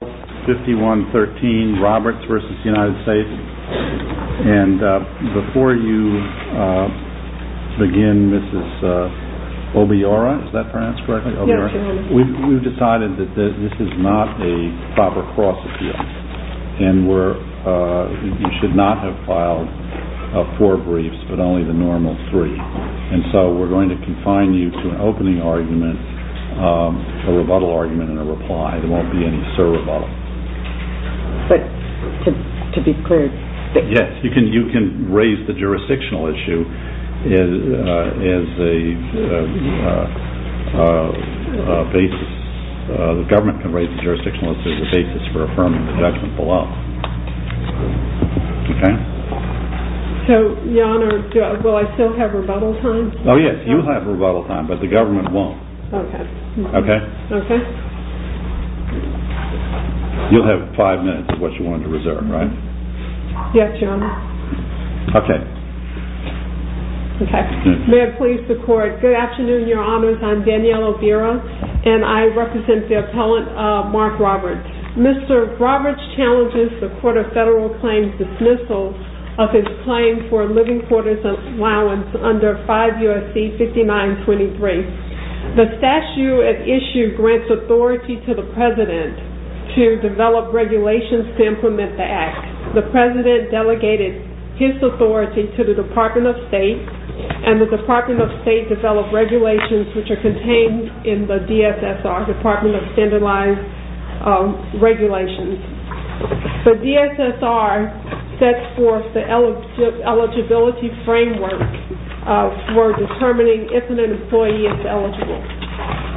We've decided that this is not a proper cross-appeal, and you should not have filed four briefs but only the normal three, and so we're going to confine you to an opening argument, a rebuttal argument and a reply. There won't be any sir rebuttal. But to be clear... Yes, you can raise the jurisdictional issue as a basis. The government can raise the jurisdictional issue as a basis for affirming the judgment below. So, Your Honor, will I still have rebuttal time? Oh yes, you have rebuttal time, but the government won't. Okay. Okay? Okay. You'll have five minutes of what you want to reserve, right? Yes, Your Honor. Okay. Okay. May it please the court. Good afternoon, Your Honors. I'm Danielle O'Byra, and I represent the appellant Mark Roberts. Mr. Roberts challenges the court of federal claims dismissal of his claim for living quarters allowance under 5 U.S.C. 5923. The statute at issue grants authority to the president to develop regulations to implement the act. The president delegated his authority to the Department of State, and the Department of State developed regulations which are contained in the DSSR, Department of Standardized Regulations. The DSSR sets forth the eligibility framework for determining if an employee is eligible.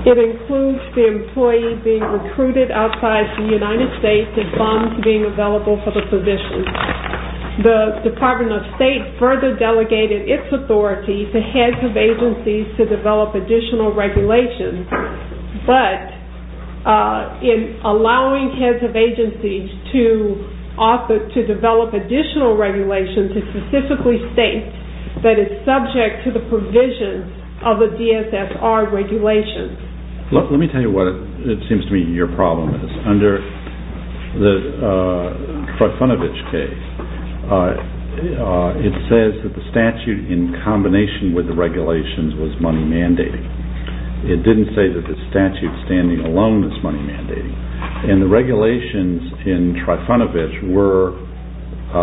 It includes the employee being recruited outside the United States and funds being available for the position. The Department of State further delegated its authority to heads of agencies to develop additional regulations, but in allowing heads of agencies to develop additional regulations to specifically state that it's subject to the provision of the DSSR regulations. Let me tell you what it seems to me your problem is. Under the Freifunovich case, it says that the statute in combination with the regulations was money mandated. It didn't say that the statute standing alone was money mandated. The regulations in Freifunovich were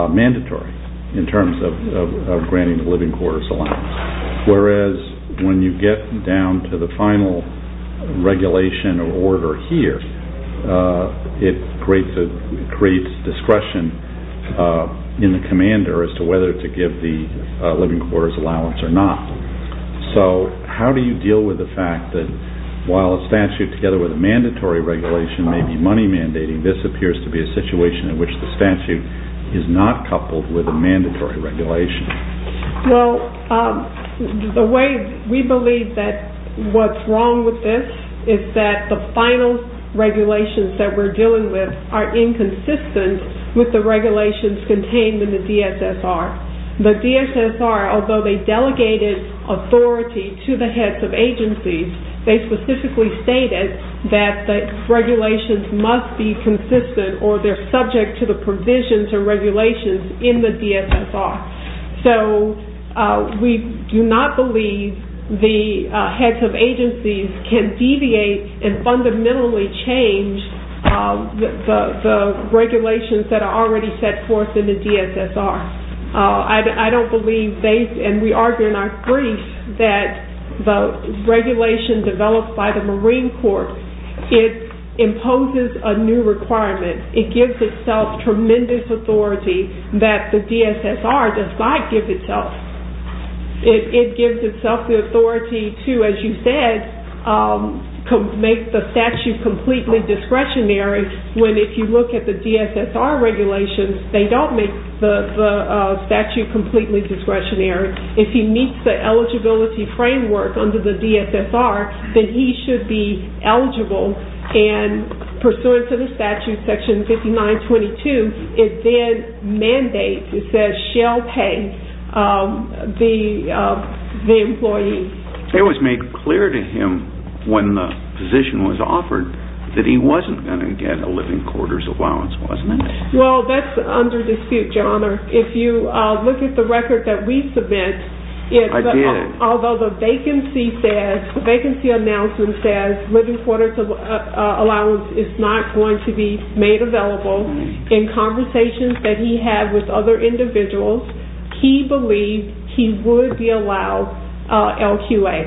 mandatory in terms of granting the living quarters allowance, whereas when you get down to the final regulation or order here, it creates discretion in the commander as to whether to give the living quarters allowance or not. So how do you deal with the fact that while a statute together with a mandatory regulation may be money mandating, this appears to be a situation in which the statute is not coupled with a mandatory regulation? The way we believe that what's wrong with this is that the final regulations that we're dealing with are inconsistent with the regulations contained in the DSSR. The DSSR, although they delegated authority to the heads of agencies, they specifically stated that the regulations must be consistent or they're subject to the provisions or regulations in the DSSR. So we do not believe the heads of agencies can deviate and fundamentally change the regulations that are already set forth in the DSSR. I don't believe, and we argue in our briefs, that the regulation developed by the Marine Corps, it imposes a new requirement. It gives itself tremendous authority that the DSSR does not give itself. It gives itself the authority to, as you said, make the statute completely discretionary, when if you look at the DSSR regulations, they don't make the statute completely discretionary. If he meets the eligibility framework under the DSSR, then he should be eligible. And pursuant to the statute, section 5922, it then mandates, it says, shall pay the employee. It was made clear to him when the position was offered that he wasn't going to get a living quarters allowance, wasn't it? Well, that's under dispute, your honor. If you look at the record that we submit, although the vacancy announcement says living quarters allowance is not going to be made available, in conversations that he had with other individuals, he believed he would be allowed LQA.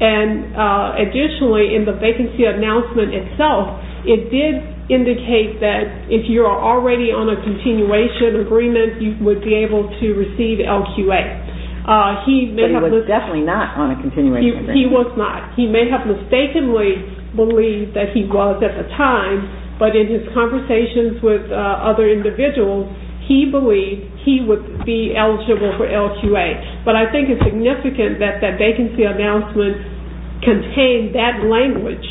And additionally, in the vacancy announcement itself, it did indicate that if you are already on a continuation agreement, you would be able to receive LQA. But he was definitely not on a continuation agreement. He was not. He may have mistakenly believed that he was at the time, but in his conversations with other individuals, he believed he would be eligible for LQA. But I think it's significant that that vacancy announcement contained that language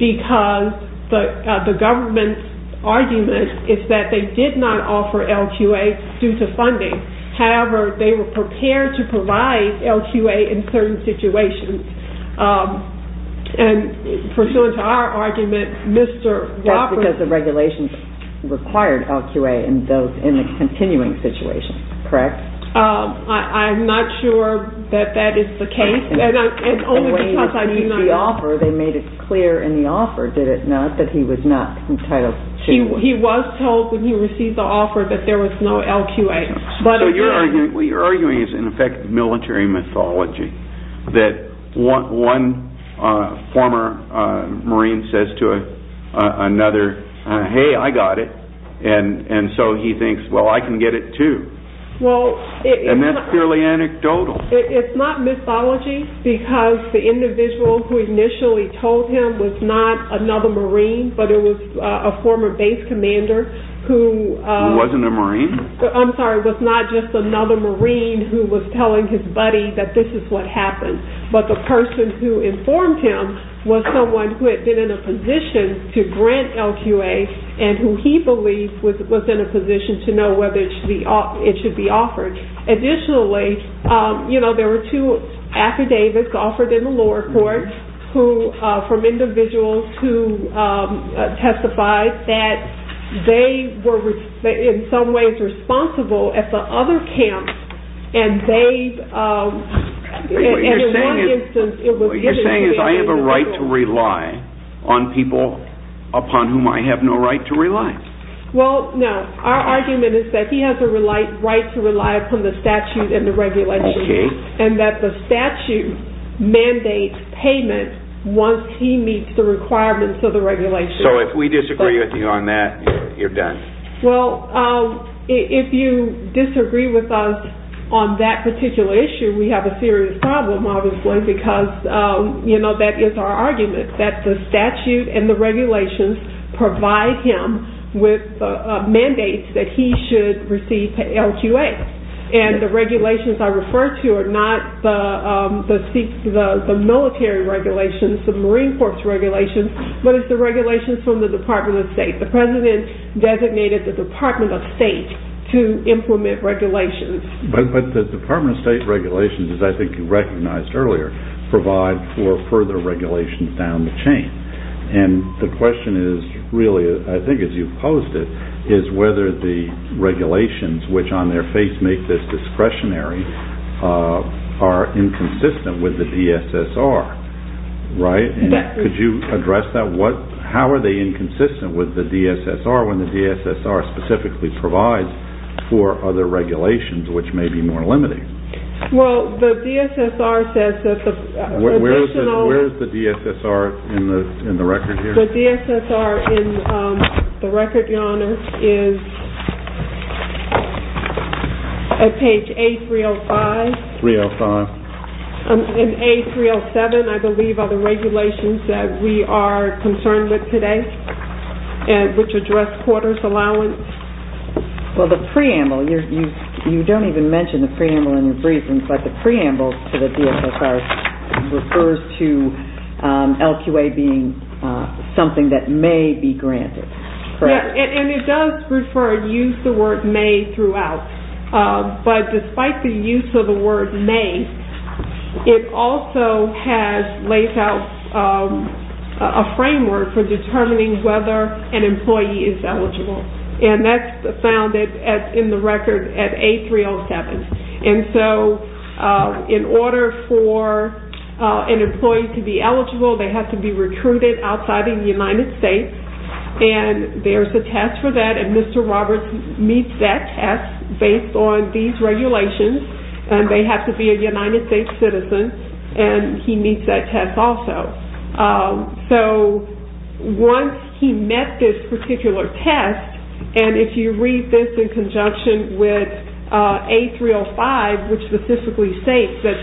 because the government's argument is that they did not offer LQA due to funding. However, they were prepared to provide LQA in certain situations. And pursuant to our argument, Mr. Wofford... That's because the regulations required LQA in the continuing situation, correct? I'm not sure that that is the case. The way they received the offer, they made it clear in the offer, did it not, that he was not entitled to... He was told when he received the offer that there was no LQA. What you're arguing is in effect military mythology. That one former Marine says to another, hey, I got it. And so he thinks, well, I can get it too. And that's purely anecdotal. It's not mythology because the individual who initially told him was not another Marine, but it was a former base commander who... Who wasn't a Marine? I'm sorry, was not just another Marine who was telling his buddy that this is what happened. But the person who informed him was someone who had been in a position to grant LQA and who he believed was in a position to know whether it should be offered. Additionally, there were two affidavits offered in the lower court from individuals who testified that they were in some ways responsible at the other camp and they... What you're saying is I have a right to rely on people upon whom I have no right to rely. Well, no, our argument is that he has a right to rely upon the statute and the regulations and that the statute mandates payment once he meets the requirements of the regulations. So if we disagree with you on that, you're done. Well, if you disagree with us on that particular issue, we have a serious problem, obviously, because that is our argument, that the statute and the regulations provide him with mandates that he should receive LQA. And the regulations I refer to are not the military regulations, the Marine Corps regulations, but it's the regulations from the Department of State. The President designated the Department of State to implement regulations. But the Department of State regulations, as I think you recognized earlier, provide for further regulations down the chain. And the question is really, I think as you posed it, is whether the regulations, which on their face make this discretionary, are inconsistent with the DSSR. Could you address that? How are they inconsistent with the DSSR when the DSSR specifically provides for other regulations which may be more limiting? Well, the DSSR says that the additional... Where is the DSSR in the record here? The DSSR in the record, Your Honor, is at page A305. A305. And A307, I believe, are the regulations that we are concerned with today, which address quarters allowance. Well, the preamble, you don't even mention the preamble in your briefing, but the preamble to the DSSR refers to LQA being something that may be granted. Correct. And it does use the word may throughout. But despite the use of the word may, it also has laid out a framework for determining whether an employee is eligible. And that's found in the record at A307. And so in order for an employee to be eligible, they have to be recruited outside of the United States. And there's a test for that. And Mr. Roberts meets that test based on these regulations. And they have to be a United States citizen. And he meets that test also. So once he met this particular test, and if you read this in conjunction with A305, which specifically states that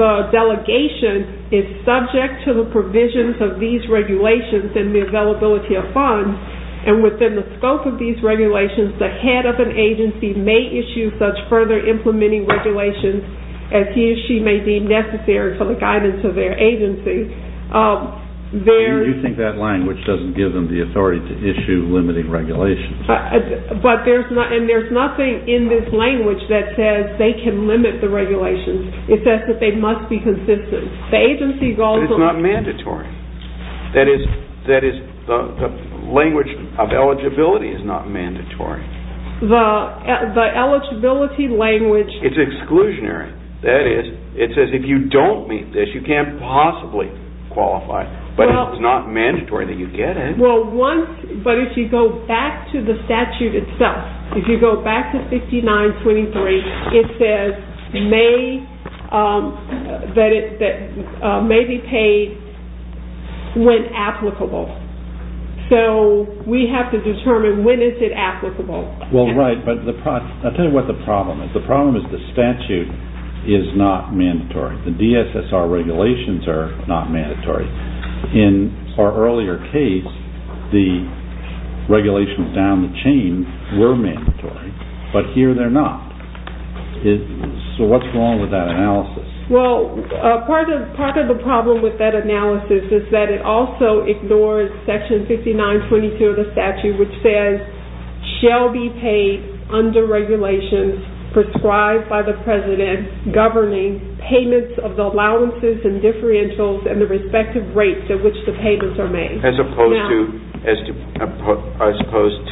the delegation is subject to the provisions of these regulations and the availability of funds, and within the scope of these regulations, the head of an agency may issue such further implementing regulations as he or she may deem necessary for the guidance of their agency. And you think that language doesn't give them the authority to issue limiting regulations. And there's nothing in this language that says they can limit the regulations. It says that they must be consistent. But it's not mandatory. That is, the language of eligibility is not mandatory. The eligibility language... It's exclusionary. That is, it says if you don't meet this, you can't possibly qualify. But it's not mandatory that you get in. But if you go back to the statute itself, if you go back to 5923, it says that it may be paid when applicable. So we have to determine when is it applicable. Well, right. But I'll tell you what the problem is. The problem is the statute is not mandatory. The DSSR regulations are not mandatory. In our earlier case, the regulations down the chain were mandatory. But here they're not. So what's wrong with that analysis? Well, part of the problem with that analysis is that it also ignores section 5922 of the statute, which says, shall be paid under regulations prescribed by the President governing payments of the allowances and differentials and the respective rates at which the payments are made. As opposed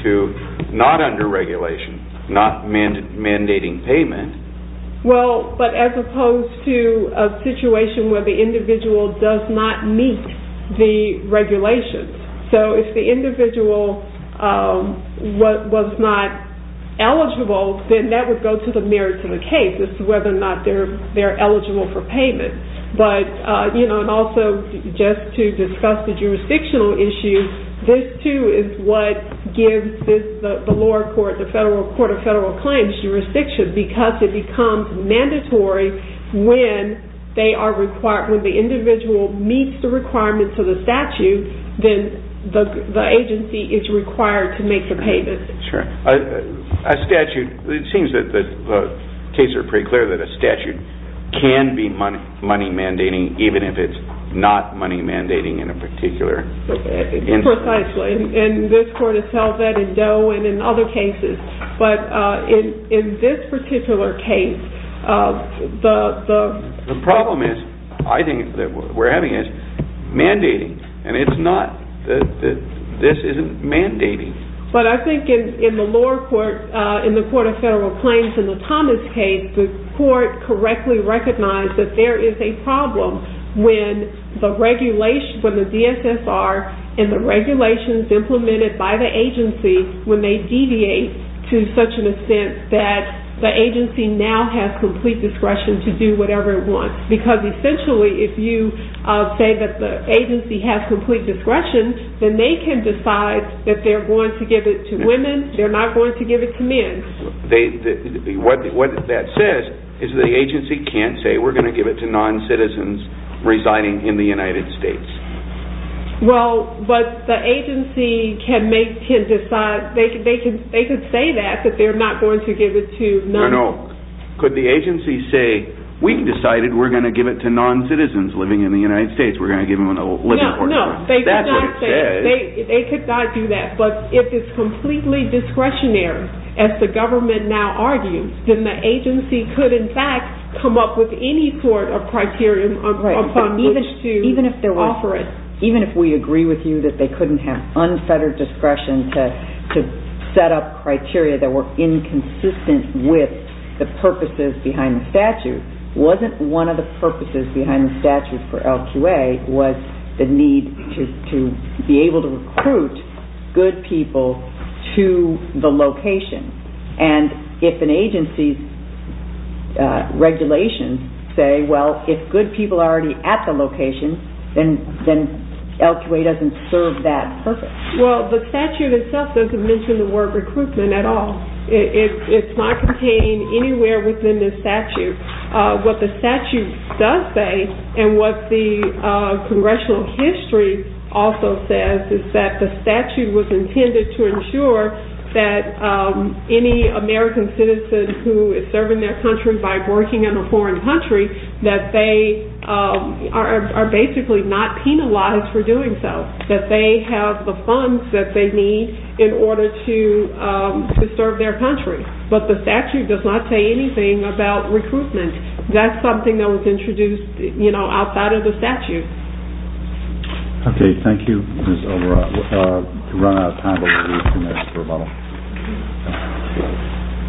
to not under regulation, not mandating payment. Well, but as opposed to a situation where the individual does not meet the regulations. So if the individual was not eligible, then that would go to the merits of the case, as to whether or not they're eligible for payment. But, you know, and also just to discuss the jurisdictional issue, this too is what gives the lower court, the Court of Federal Claims jurisdiction because it becomes mandatory when they are required, when the individual meets the requirements of the statute, then the agency is required to make the payment. Sure. A statute, it seems that the cases are pretty clear that a statute can be money mandating, even if it's not money mandating in a particular... Precisely. And this court has held that in Doe and in other cases. But in this particular case, the... The problem is, I think, that we're having is mandating. And it's not that this isn't mandating. But I think in the lower court, in the Court of Federal Claims, in the Thomas case, the court correctly recognized that there is a problem when the regulation, when the DSSR and the regulations implemented by the agency, when they deviate to such an extent that the agency now has complete discretion to do whatever it wants. Because, essentially, if you say that the agency has complete discretion, then they can decide that they're going to give it to women, they're not going to give it to men. What that says is the agency can't say, we're going to give it to non-citizens residing in the United States. Well, but the agency can make, can decide, they could say that, that they're not going to give it to non... No, no, no. Could the agency say, we've decided we're going to give it to non-citizens living in the United States, we're going to give them a living portfolio. No, no. That's what it says. They could not say that. They could not do that. But if it's completely discretionary, as the government now argues, then the agency could, in fact, come up with any sort of criteria upon which to offer it. Even if we agree with you that they couldn't have unfettered discretion to set up criteria that were inconsistent with the purposes behind the statute, wasn't one of the purposes behind the statute for LQA was the need to be able to recruit good people to the location. And if an agency's regulations say, well, if good people are already at the location, then LQA doesn't serve that purpose. Well, the statute itself doesn't mention the word recruitment at all. It's not contained anywhere within the statute. What the statute does say, and what the congressional history also says, is that the statute was intended to ensure that any American citizen who is serving their country by working in a foreign country, that they are basically not penalized for doing so, that they have the funds that they need in order to serve their country. But the statute does not say anything about recruitment. That's something that was introduced, you know, outside of the statute. Okay. Thank you, Ms. O'Rourke. We've run out of time.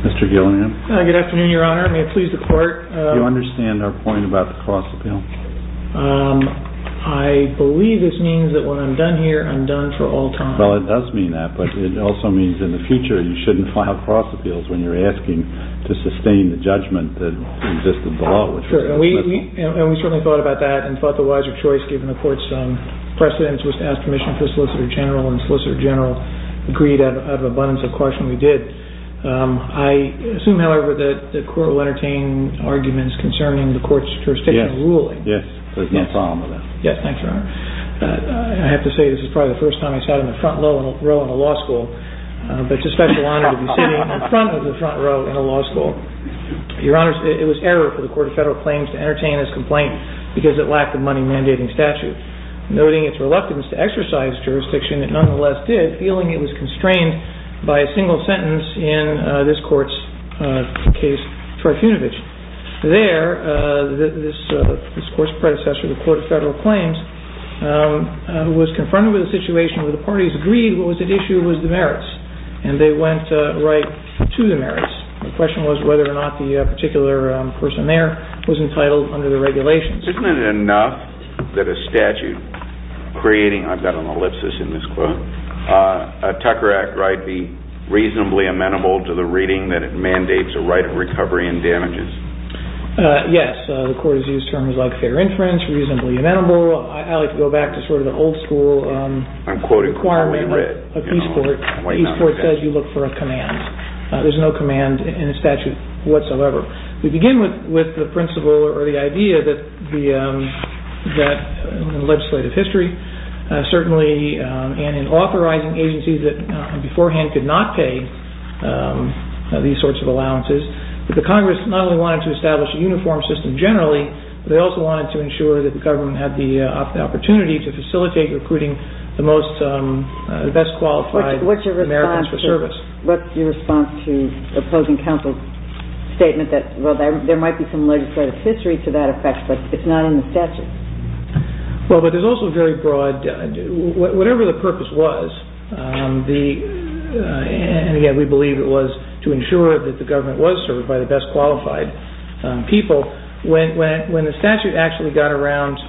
Mr. Gilliam. Good afternoon, Your Honor. May it please the Court? Do you understand our point about the cross-appeal? I believe this means that when I'm done here, I'm done for all time. Well, it does mean that, but it also means in the future you shouldn't file cross-appeals when you're asking to sustain the judgment that existed below. Sure, and we certainly thought about that and thought the wiser choice, given the Court's precedence, was to ask permission for Solicitor General, and Solicitor General agreed out of abundance of caution we did. I assume, however, that the Court will entertain arguments concerning the Court's jurisdictional ruling. Yes. There's no problem with that. Yes. Thanks, Your Honor. I have to say this is probably the first time I sat in the front row in a law school, but it's a special honor to be sitting in front of the front row in a law school. Your Honor, it was error for the Court of Federal Claims to entertain this complaint because it lacked the money-mandating statute. Noting its reluctance to exercise jurisdiction, it nonetheless did, feeling it was constrained by a single sentence in this Court's case for Trifunovitch. There, this Court's predecessor, the Court of Federal Claims, was confronted with a situation where the parties agreed what was at issue was the merits, and they went right to the merits. The question was whether or not the particular person there was entitled under the regulations. Isn't it enough that a statute creating, I've got an ellipsis in this quote, a Tucker Act right be reasonably amenable to the reading that it mandates a right of recovery and damages? Yes. The Court has used terms like fair inference, reasonably amenable. I like to go back to sort of the old school requirement of Eastport. Eastport says you look for a command. There's no command in the statute whatsoever. We begin with the principle or the idea that the legislative history, certainly in authorizing agencies that beforehand could not pay these sorts of allowances, that the Congress not only wanted to establish a uniform system generally, but they also wanted to ensure that the government had the opportunity to facilitate recruiting the best qualified Americans for service. What's your response to the opposing counsel's statement that, well, there might be some legislative history to that effect, but it's not in the statute? Well, but there's also a very broad, whatever the purpose was, and again, we believe it was to ensure that the government was served by the best qualified people. When the statute actually got around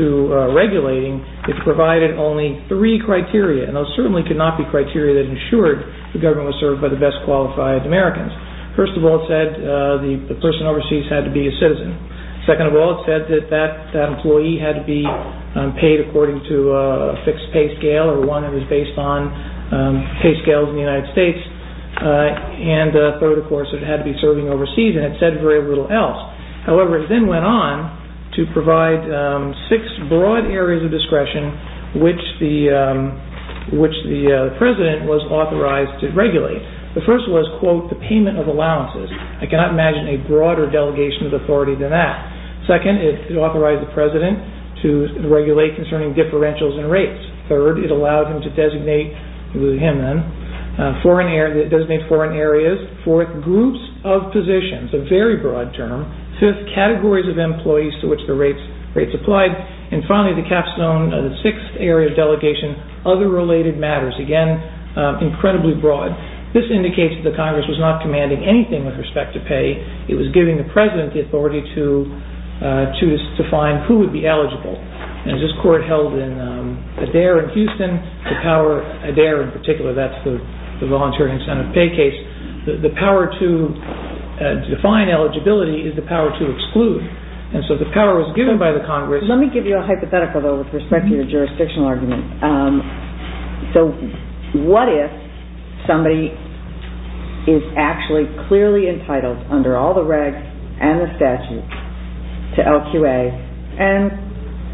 to regulating, it provided only three criteria, and those certainly could not be criteria that ensured the government was served by the best qualified Americans. First of all, it said the person overseas had to be a citizen. Second of all, it said that that employee had to be paid according to a fixed pay scale or one that was based on pay scales in the United States. And third, of course, it had to be serving overseas, and it said very little else. However, it then went on to provide six broad areas of discretion, which the president was authorized to regulate. The first was, quote, the payment of allowances. I cannot imagine a broader delegation of authority than that. Second, it authorized the president to regulate concerning differentials and rates. Third, it allowed him to designate foreign areas. Fourth, groups of positions, a very broad term. Fifth, categories of employees to which the rates applied. And finally, the capstone, the sixth area of delegation, other related matters. Again, incredibly broad. This indicates that the Congress was not commanding anything with respect to pay. It was giving the president the authority to define who would be eligible. And as this court held in Adair in Houston, the power, Adair in particular, that's the voluntary incentive pay case, the power to define eligibility is the power to exclude. And so the power was given by the Congress. Let me give you a hypothetical, though, with respect to your jurisdictional argument. So what if somebody is actually clearly entitled under all the regs and the statutes to LQA and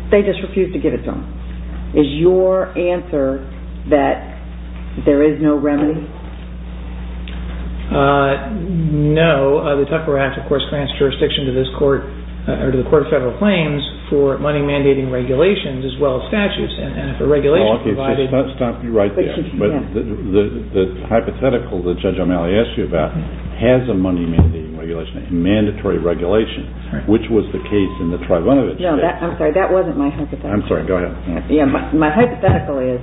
they just refuse to give it to them? Is your answer that there is no remedy? No. The Tucker Act, of course, grants jurisdiction to the Court of Federal Claims for money-mandating regulations as well as statutes and for regulations provided. Stop me right there. The hypothetical that Judge O'Malley asked you about has a money-mandating regulation, a mandatory regulation, which was the case in the Trayvonovitch case. No, I'm sorry. That wasn't my hypothetical. I'm sorry. Go ahead. My hypothetical is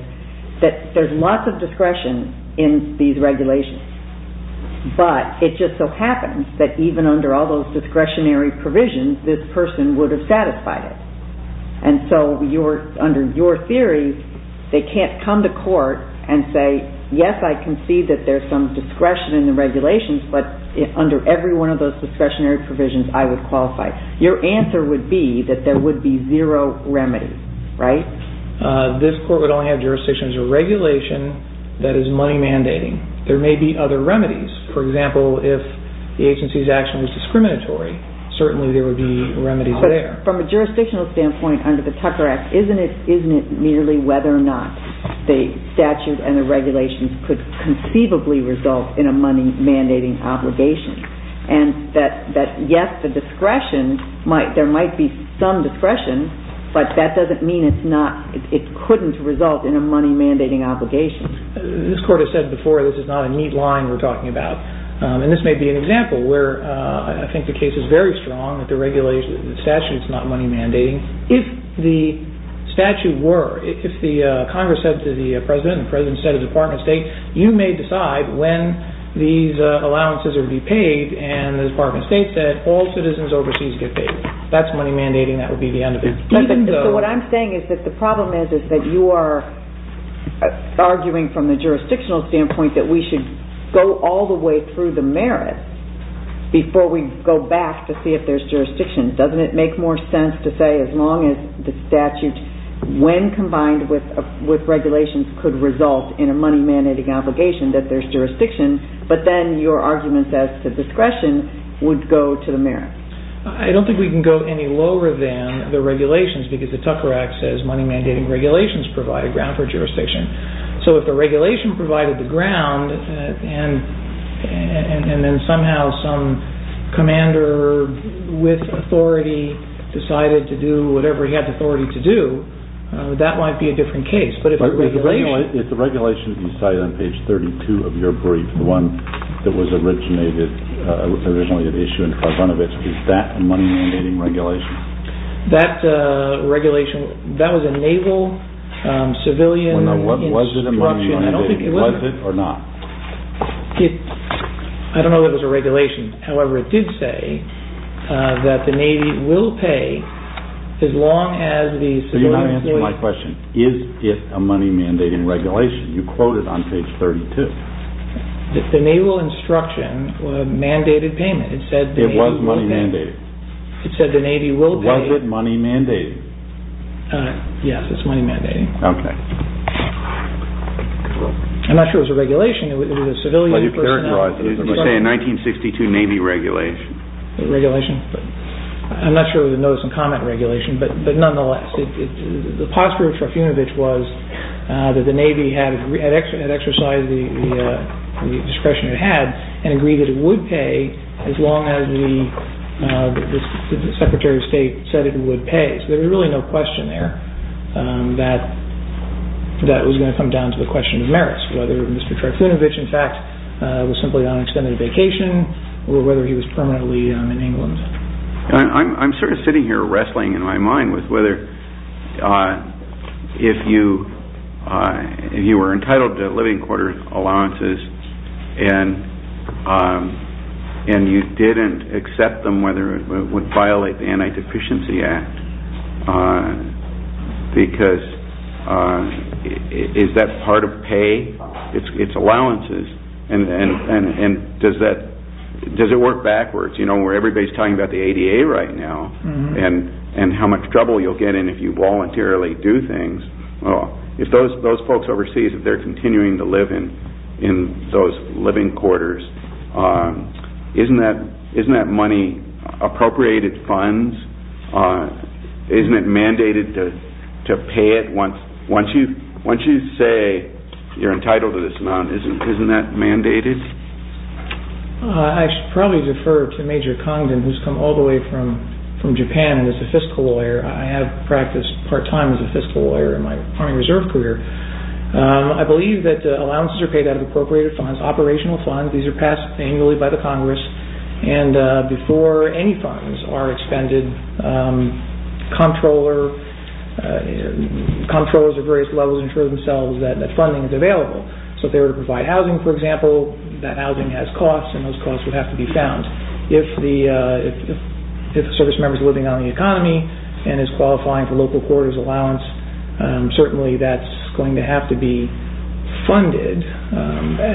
that there's lots of discretion in these regulations, but it just so happens that even under all those discretionary provisions, this person would have satisfied it. And so under your theory, they can't come to court and say, yes, I can see that there's some discretion in the regulations, but under every one of those discretionary provisions, I would qualify. Your answer would be that there would be zero remedy, right? This court would only have jurisdiction as a regulation that is money-mandating. There may be other remedies. For example, if the agency's action was discriminatory, certainly there would be remedies there. But from a jurisdictional standpoint under the Tucker Act, isn't it merely whether or not the statute and the regulations could conceivably result in a money-mandating obligation? And that, yes, there might be some discretion, but that doesn't mean it couldn't result in a money-mandating obligation. This court has said before this is not a neat line we're talking about. And this may be an example where I think the case is very strong that the statute is not money-mandating. If the statute were, if the Congress said to the President, and the President said to the Department of State, you may decide when these allowances would be paid, and the Department of State said all citizens overseas get paid. That's money-mandating. That would be the end of it. So what I'm saying is that the problem is that you are arguing from the jurisdictional standpoint that we should go all the way through the merits before we go back to see if there's jurisdiction. Doesn't it make more sense to say as long as the statute, when combined with regulations, could result in a money-mandating obligation that there's jurisdiction, but then your arguments as to discretion would go to the merits? I don't think we can go any lower than the regulations because the Tucker Act says money-mandating regulations provide a ground for jurisdiction. So if the regulation provided the ground, and then somehow some commander with authority decided to do whatever he had the authority to do, that might be a different case. But if the regulation... But if the regulation that you cite on page 32 of your brief, the one that was originally issued in Karvanovich, is that a money-mandating regulation? That regulation, that was a naval civilian... Was it a money-mandating? Was it or not? I don't know if it was a regulation. However, it did say that the Navy will pay as long as the civilian... So you're not answering my question. Is it a money-mandating regulation? You quote it on page 32. The naval instruction mandated payment. It was money-mandating. It said the Navy will pay... Was it money-mandating? Yes, it's money-mandating. Okay. I'm not sure it was a regulation. It was a civilian personnel... Well, you characterized it. You say a 1962 Navy regulation. A regulation. I'm not sure it was a notice-and-comment regulation, but nonetheless, the posture of Tarfunovich was that the Navy had exercised the discretion it had and agreed that it would pay as long as the Secretary of State said it would pay. So there was really no question there that it was going to come down to a question of merits, whether Mr. Tarfunovich, in fact, was simply on extended vacation or whether he was permanently in England. I'm sort of sitting here wrestling in my mind with whether if you were entitled to living quarter allowances and you didn't accept them, whether it would violate the Anti-Deficiency Act, because is that part of pay? It's allowances. Does it work backwards, where everybody's talking about the ADA right now and how much trouble you'll get in if you voluntarily do things? If those folks overseas, if they're continuing to live in those living quarters, isn't that money appropriated funds? Isn't it mandated to pay it once you say you're entitled to this amount? Isn't that mandated? I should probably defer to Major Congdon, who's come all the way from Japan and is a fiscal lawyer. I have practiced part-time as a fiscal lawyer in my Army Reserve career. I believe that allowances are paid out of appropriated funds, operational funds. These are passed annually by the Congress. Before any funds are expended, comptrollers at various levels ensure themselves that funding is available. If they were to provide housing, for example, that housing has costs and those costs would have to be found. If a service member is living on the economy and is qualifying for local quarters allowance, certainly that's going to have to be funded.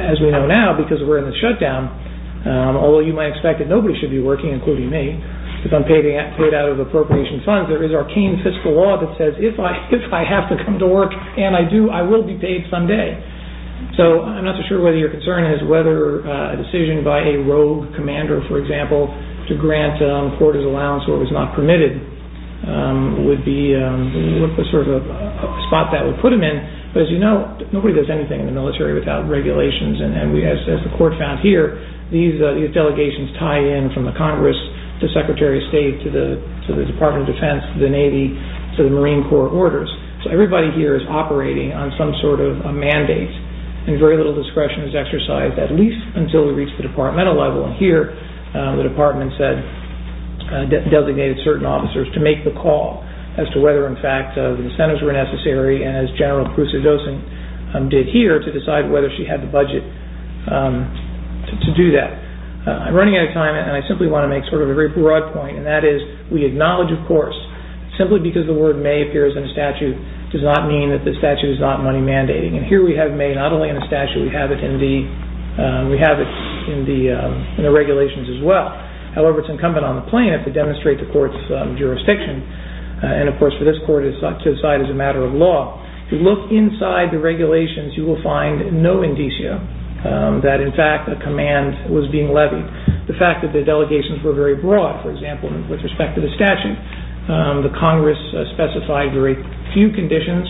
As we know now, because we're in the shutdown, although you might expect that nobody should be working, including me, if I'm paid out of appropriation funds, there is arcane fiscal law that says, if I have to come to work and I do, I will be paid someday. I'm not so sure whether your concern is whether a decision by a rogue commander, for example, to grant quarters allowance where it was not permitted would be a spot that would put him in. As you know, nobody does anything in the military without regulations. As the court found here, these delegations tie in from the Congress to the Secretary of State, to the Department of Defense, to the Navy, to the Marine Corps orders. Everybody here is operating on some sort of mandate and very little discretion is exercised, at least until we reach the departmental level. Here, the department designated certain officers to make the call as to whether, in fact, the incentives were necessary, as General Kruse-Dosen did here, to decide whether she had the budget to do that. I'm running out of time, and I simply want to make a very broad point, and that is we acknowledge, of course, simply because the word may appears in a statute does not mean that the statute is not money mandating. Here, we have may not only in a statute, we have it in the regulations as well. However, it's incumbent on the plaintiff to demonstrate the court's jurisdiction. Of course, for this court, it is to decide as a matter of law. If you look inside the regulations, you will find no indicia that, in fact, a command was being levied. The fact that the delegations were very broad, for example, with respect to the statute, the Congress specified very few conditions,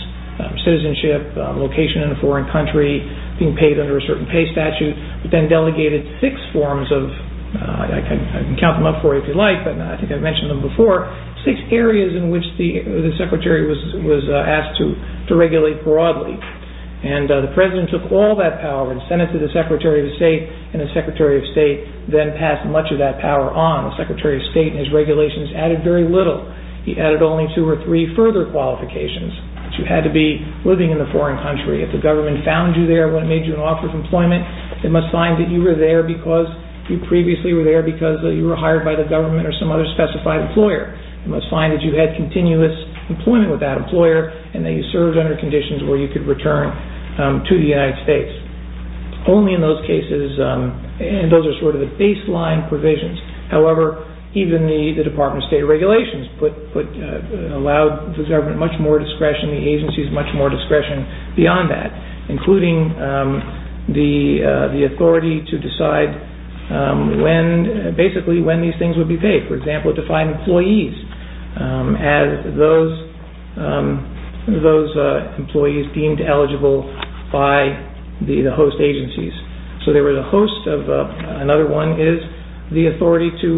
citizenship, location in a foreign country, being paid under a certain pay statute, but then delegated six forms of, I can count them up for you if you like, but I think I've mentioned them before, six areas in which the Secretary was asked to regulate broadly. And the President took all that power and sent it to the Secretary of State, and the Secretary of State then passed much of that power on. The Secretary of State in his regulations added very little. He added only two or three further qualifications that you had to be living in a foreign country. If the government found you there when it made you an offer of employment, it must find that you were there because you previously were there because you were hired by the government or some other specified employer. It must find that you had continuous employment with that employer and that you served under conditions where you could return to the United States. Only in those cases, and those are sort of the baseline provisions, however, even the Department of State regulations allow the government much more discretion, the agencies much more discretion beyond that, including the authority to decide when, basically when these things would be paid. For example, to find employees as those employees deemed eligible by the host agencies. So they were the host of, another one is, the authority to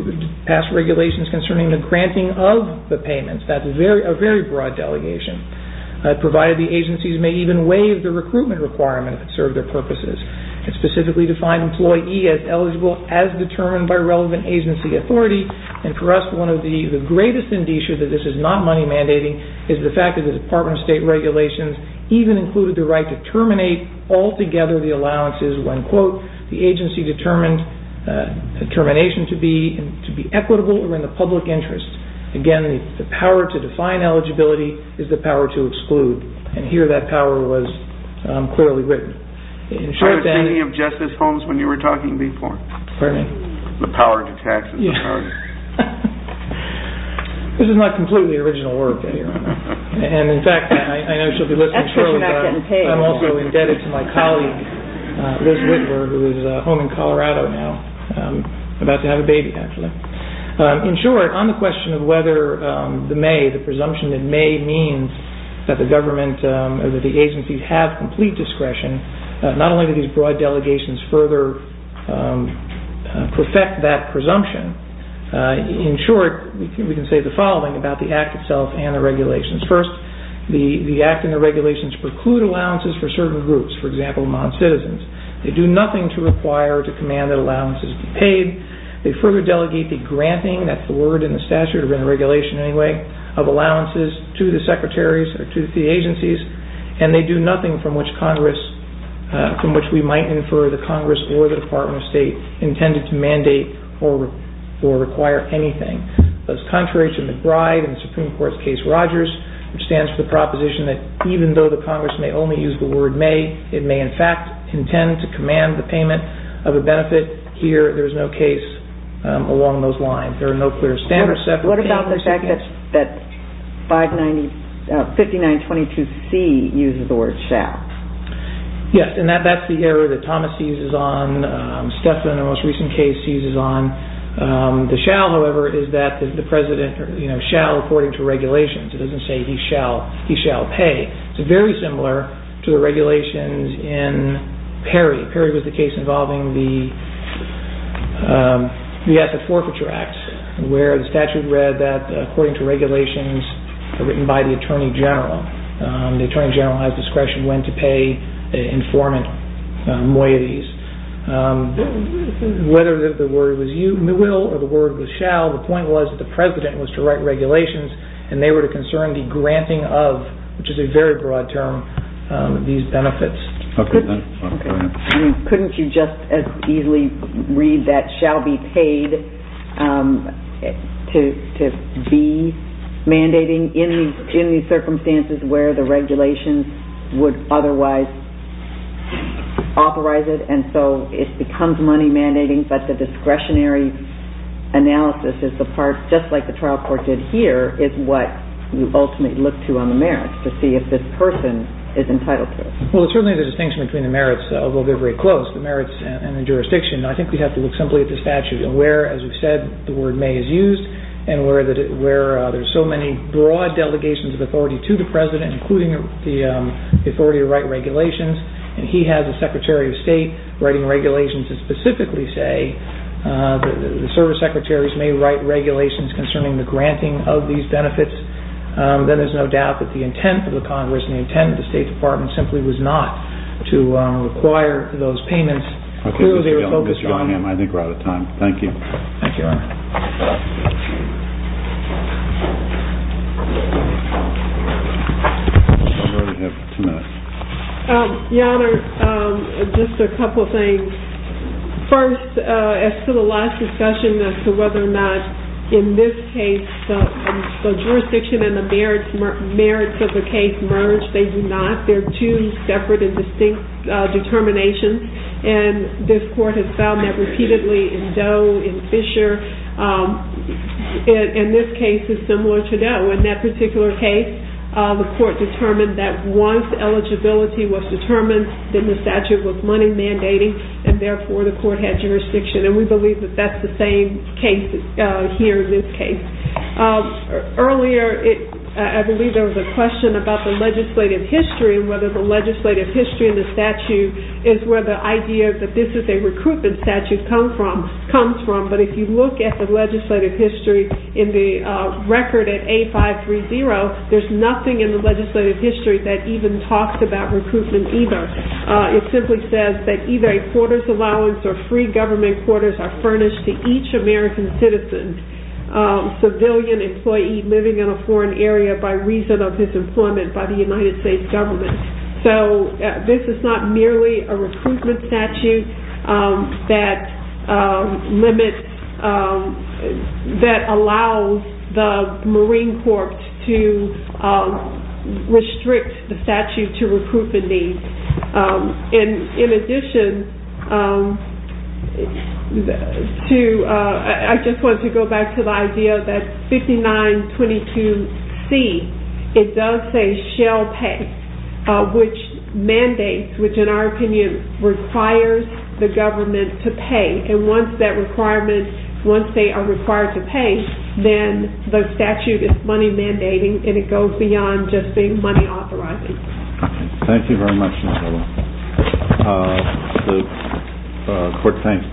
pass regulations concerning the granting of the payments. That's a very broad delegation. Provided the agencies may even waive the recruitment requirement if it served their purposes. It specifically defined employee as eligible as determined by relevant agency authority. And for us, one of the greatest indicia that this is not money mandating is the fact that the Department of State regulations even included the right to terminate altogether the allowances when, quote, the agency determined the termination to be equitable or in the public interest. Again, the power to define eligibility is the power to exclude. And here that power was clearly written. I was thinking of Justice Holmes when you were talking before. Pardon me? The power to tax. This is not completely original work, Your Honor. And in fact, I know she'll be listening shortly, but I'm also indebted to my colleague, Liz Whitmer, who is home in Colorado now, about to have a baby, actually. In short, on the question of whether the may, the presumption that may means that the government or that the agency have complete discretion, not only do these broad delegations further perfect that presumption, in short, we can say the following about the act itself and the regulations. First, the act and the regulations preclude allowances for certain groups, for example, non-citizens. They do nothing to require or to command that allowances be paid. They further delegate the granting, that's the word in the statute or in the regulation anyway, of allowances to the secretaries or to the agencies, and they do nothing from which Congress, from which we might infer the Congress or the Department of State intended to mandate or require anything. That's contrary to McBride and the Supreme Court's case Rogers, which stands for the proposition that even though the Congress may only use the word may, it may in fact intend to command the payment of a benefit. Here, there is no case along those lines. There are no clear standards set. What about the fact that 5922C uses the word shall? Yes, and that's the area that Thomas seizes on. Stephan, in the most recent case, seizes on. The shall, however, is that the president shall according to regulations. It doesn't say he shall pay. It's very similar to the regulations in Perry. Perry was the case involving the Asset Forfeiture Act, where the statute read that according to regulations written by the Attorney General. The Attorney General has discretion when to pay informant moieties. Whether the word was you will or the word was shall, the point was that the president was to write regulations and they were to concern the granting of, which is a very broad term, these benefits. Couldn't you just as easily read that shall be paid to be mandating in these circumstances where the regulations would otherwise authorize it and so it becomes money mandating, but the discretionary analysis is the part, just like the trial court did here, is what you ultimately look to on the merits to see if this person is entitled to it. Well, it's really the distinction between the merits, although they're very close, the merits and the jurisdiction. I think we have to look simply at the statute and where, as we've said, the word may is used and where there's so many broad delegations of authority to the president, including the authority to write regulations, and he has a secretary of state writing regulations that specifically say the service secretaries may write regulations concerning the granting of these benefits, then there's no doubt that the intent of the Congress and the intent of the State Department simply was not to require those payments. Clearly, they were focused on... Okay, Mr. Gellin, I think we're out of time. Thank you. Thank you, Your Honor. Sorry, we have two minutes. Your Honor, just a couple of things. First, as to the last discussion as to whether or not in this case the jurisdiction and the merits of the case merge, they do not. They're two separate and distinct determinations, and this court has found that repeatedly in Doe, in Fisher, and this case is similar to Doe. In that particular case, the court determined that once eligibility was determined, then the statute was money mandating, and therefore the court had jurisdiction, and we believe that that's the same case here in this case. Earlier, I believe there was a question about the legislative history and whether the legislative history in the statute is where the idea that this is a recruitment statute comes from, but if you look at the legislative history in the record at A530, there's nothing in the legislative history that even talks about recruitment either. It simply says that either a quarters allowance or free government quarters are furnished to each American citizen, civilian employee living in a foreign area by reason of disemployment by the United States government. This is not merely a recruitment statute that limits, that allows the Marine Corps to restrict the statute to recruitment needs. In addition, I just want to go back to the idea that 5922C, it does say shall pay, which mandates, which in our opinion requires the government to pay, and once that requirement, once they are required to pay, then the statute is money mandating, and it goes beyond just being money authorizing. Thank you very much, Ms. Miller.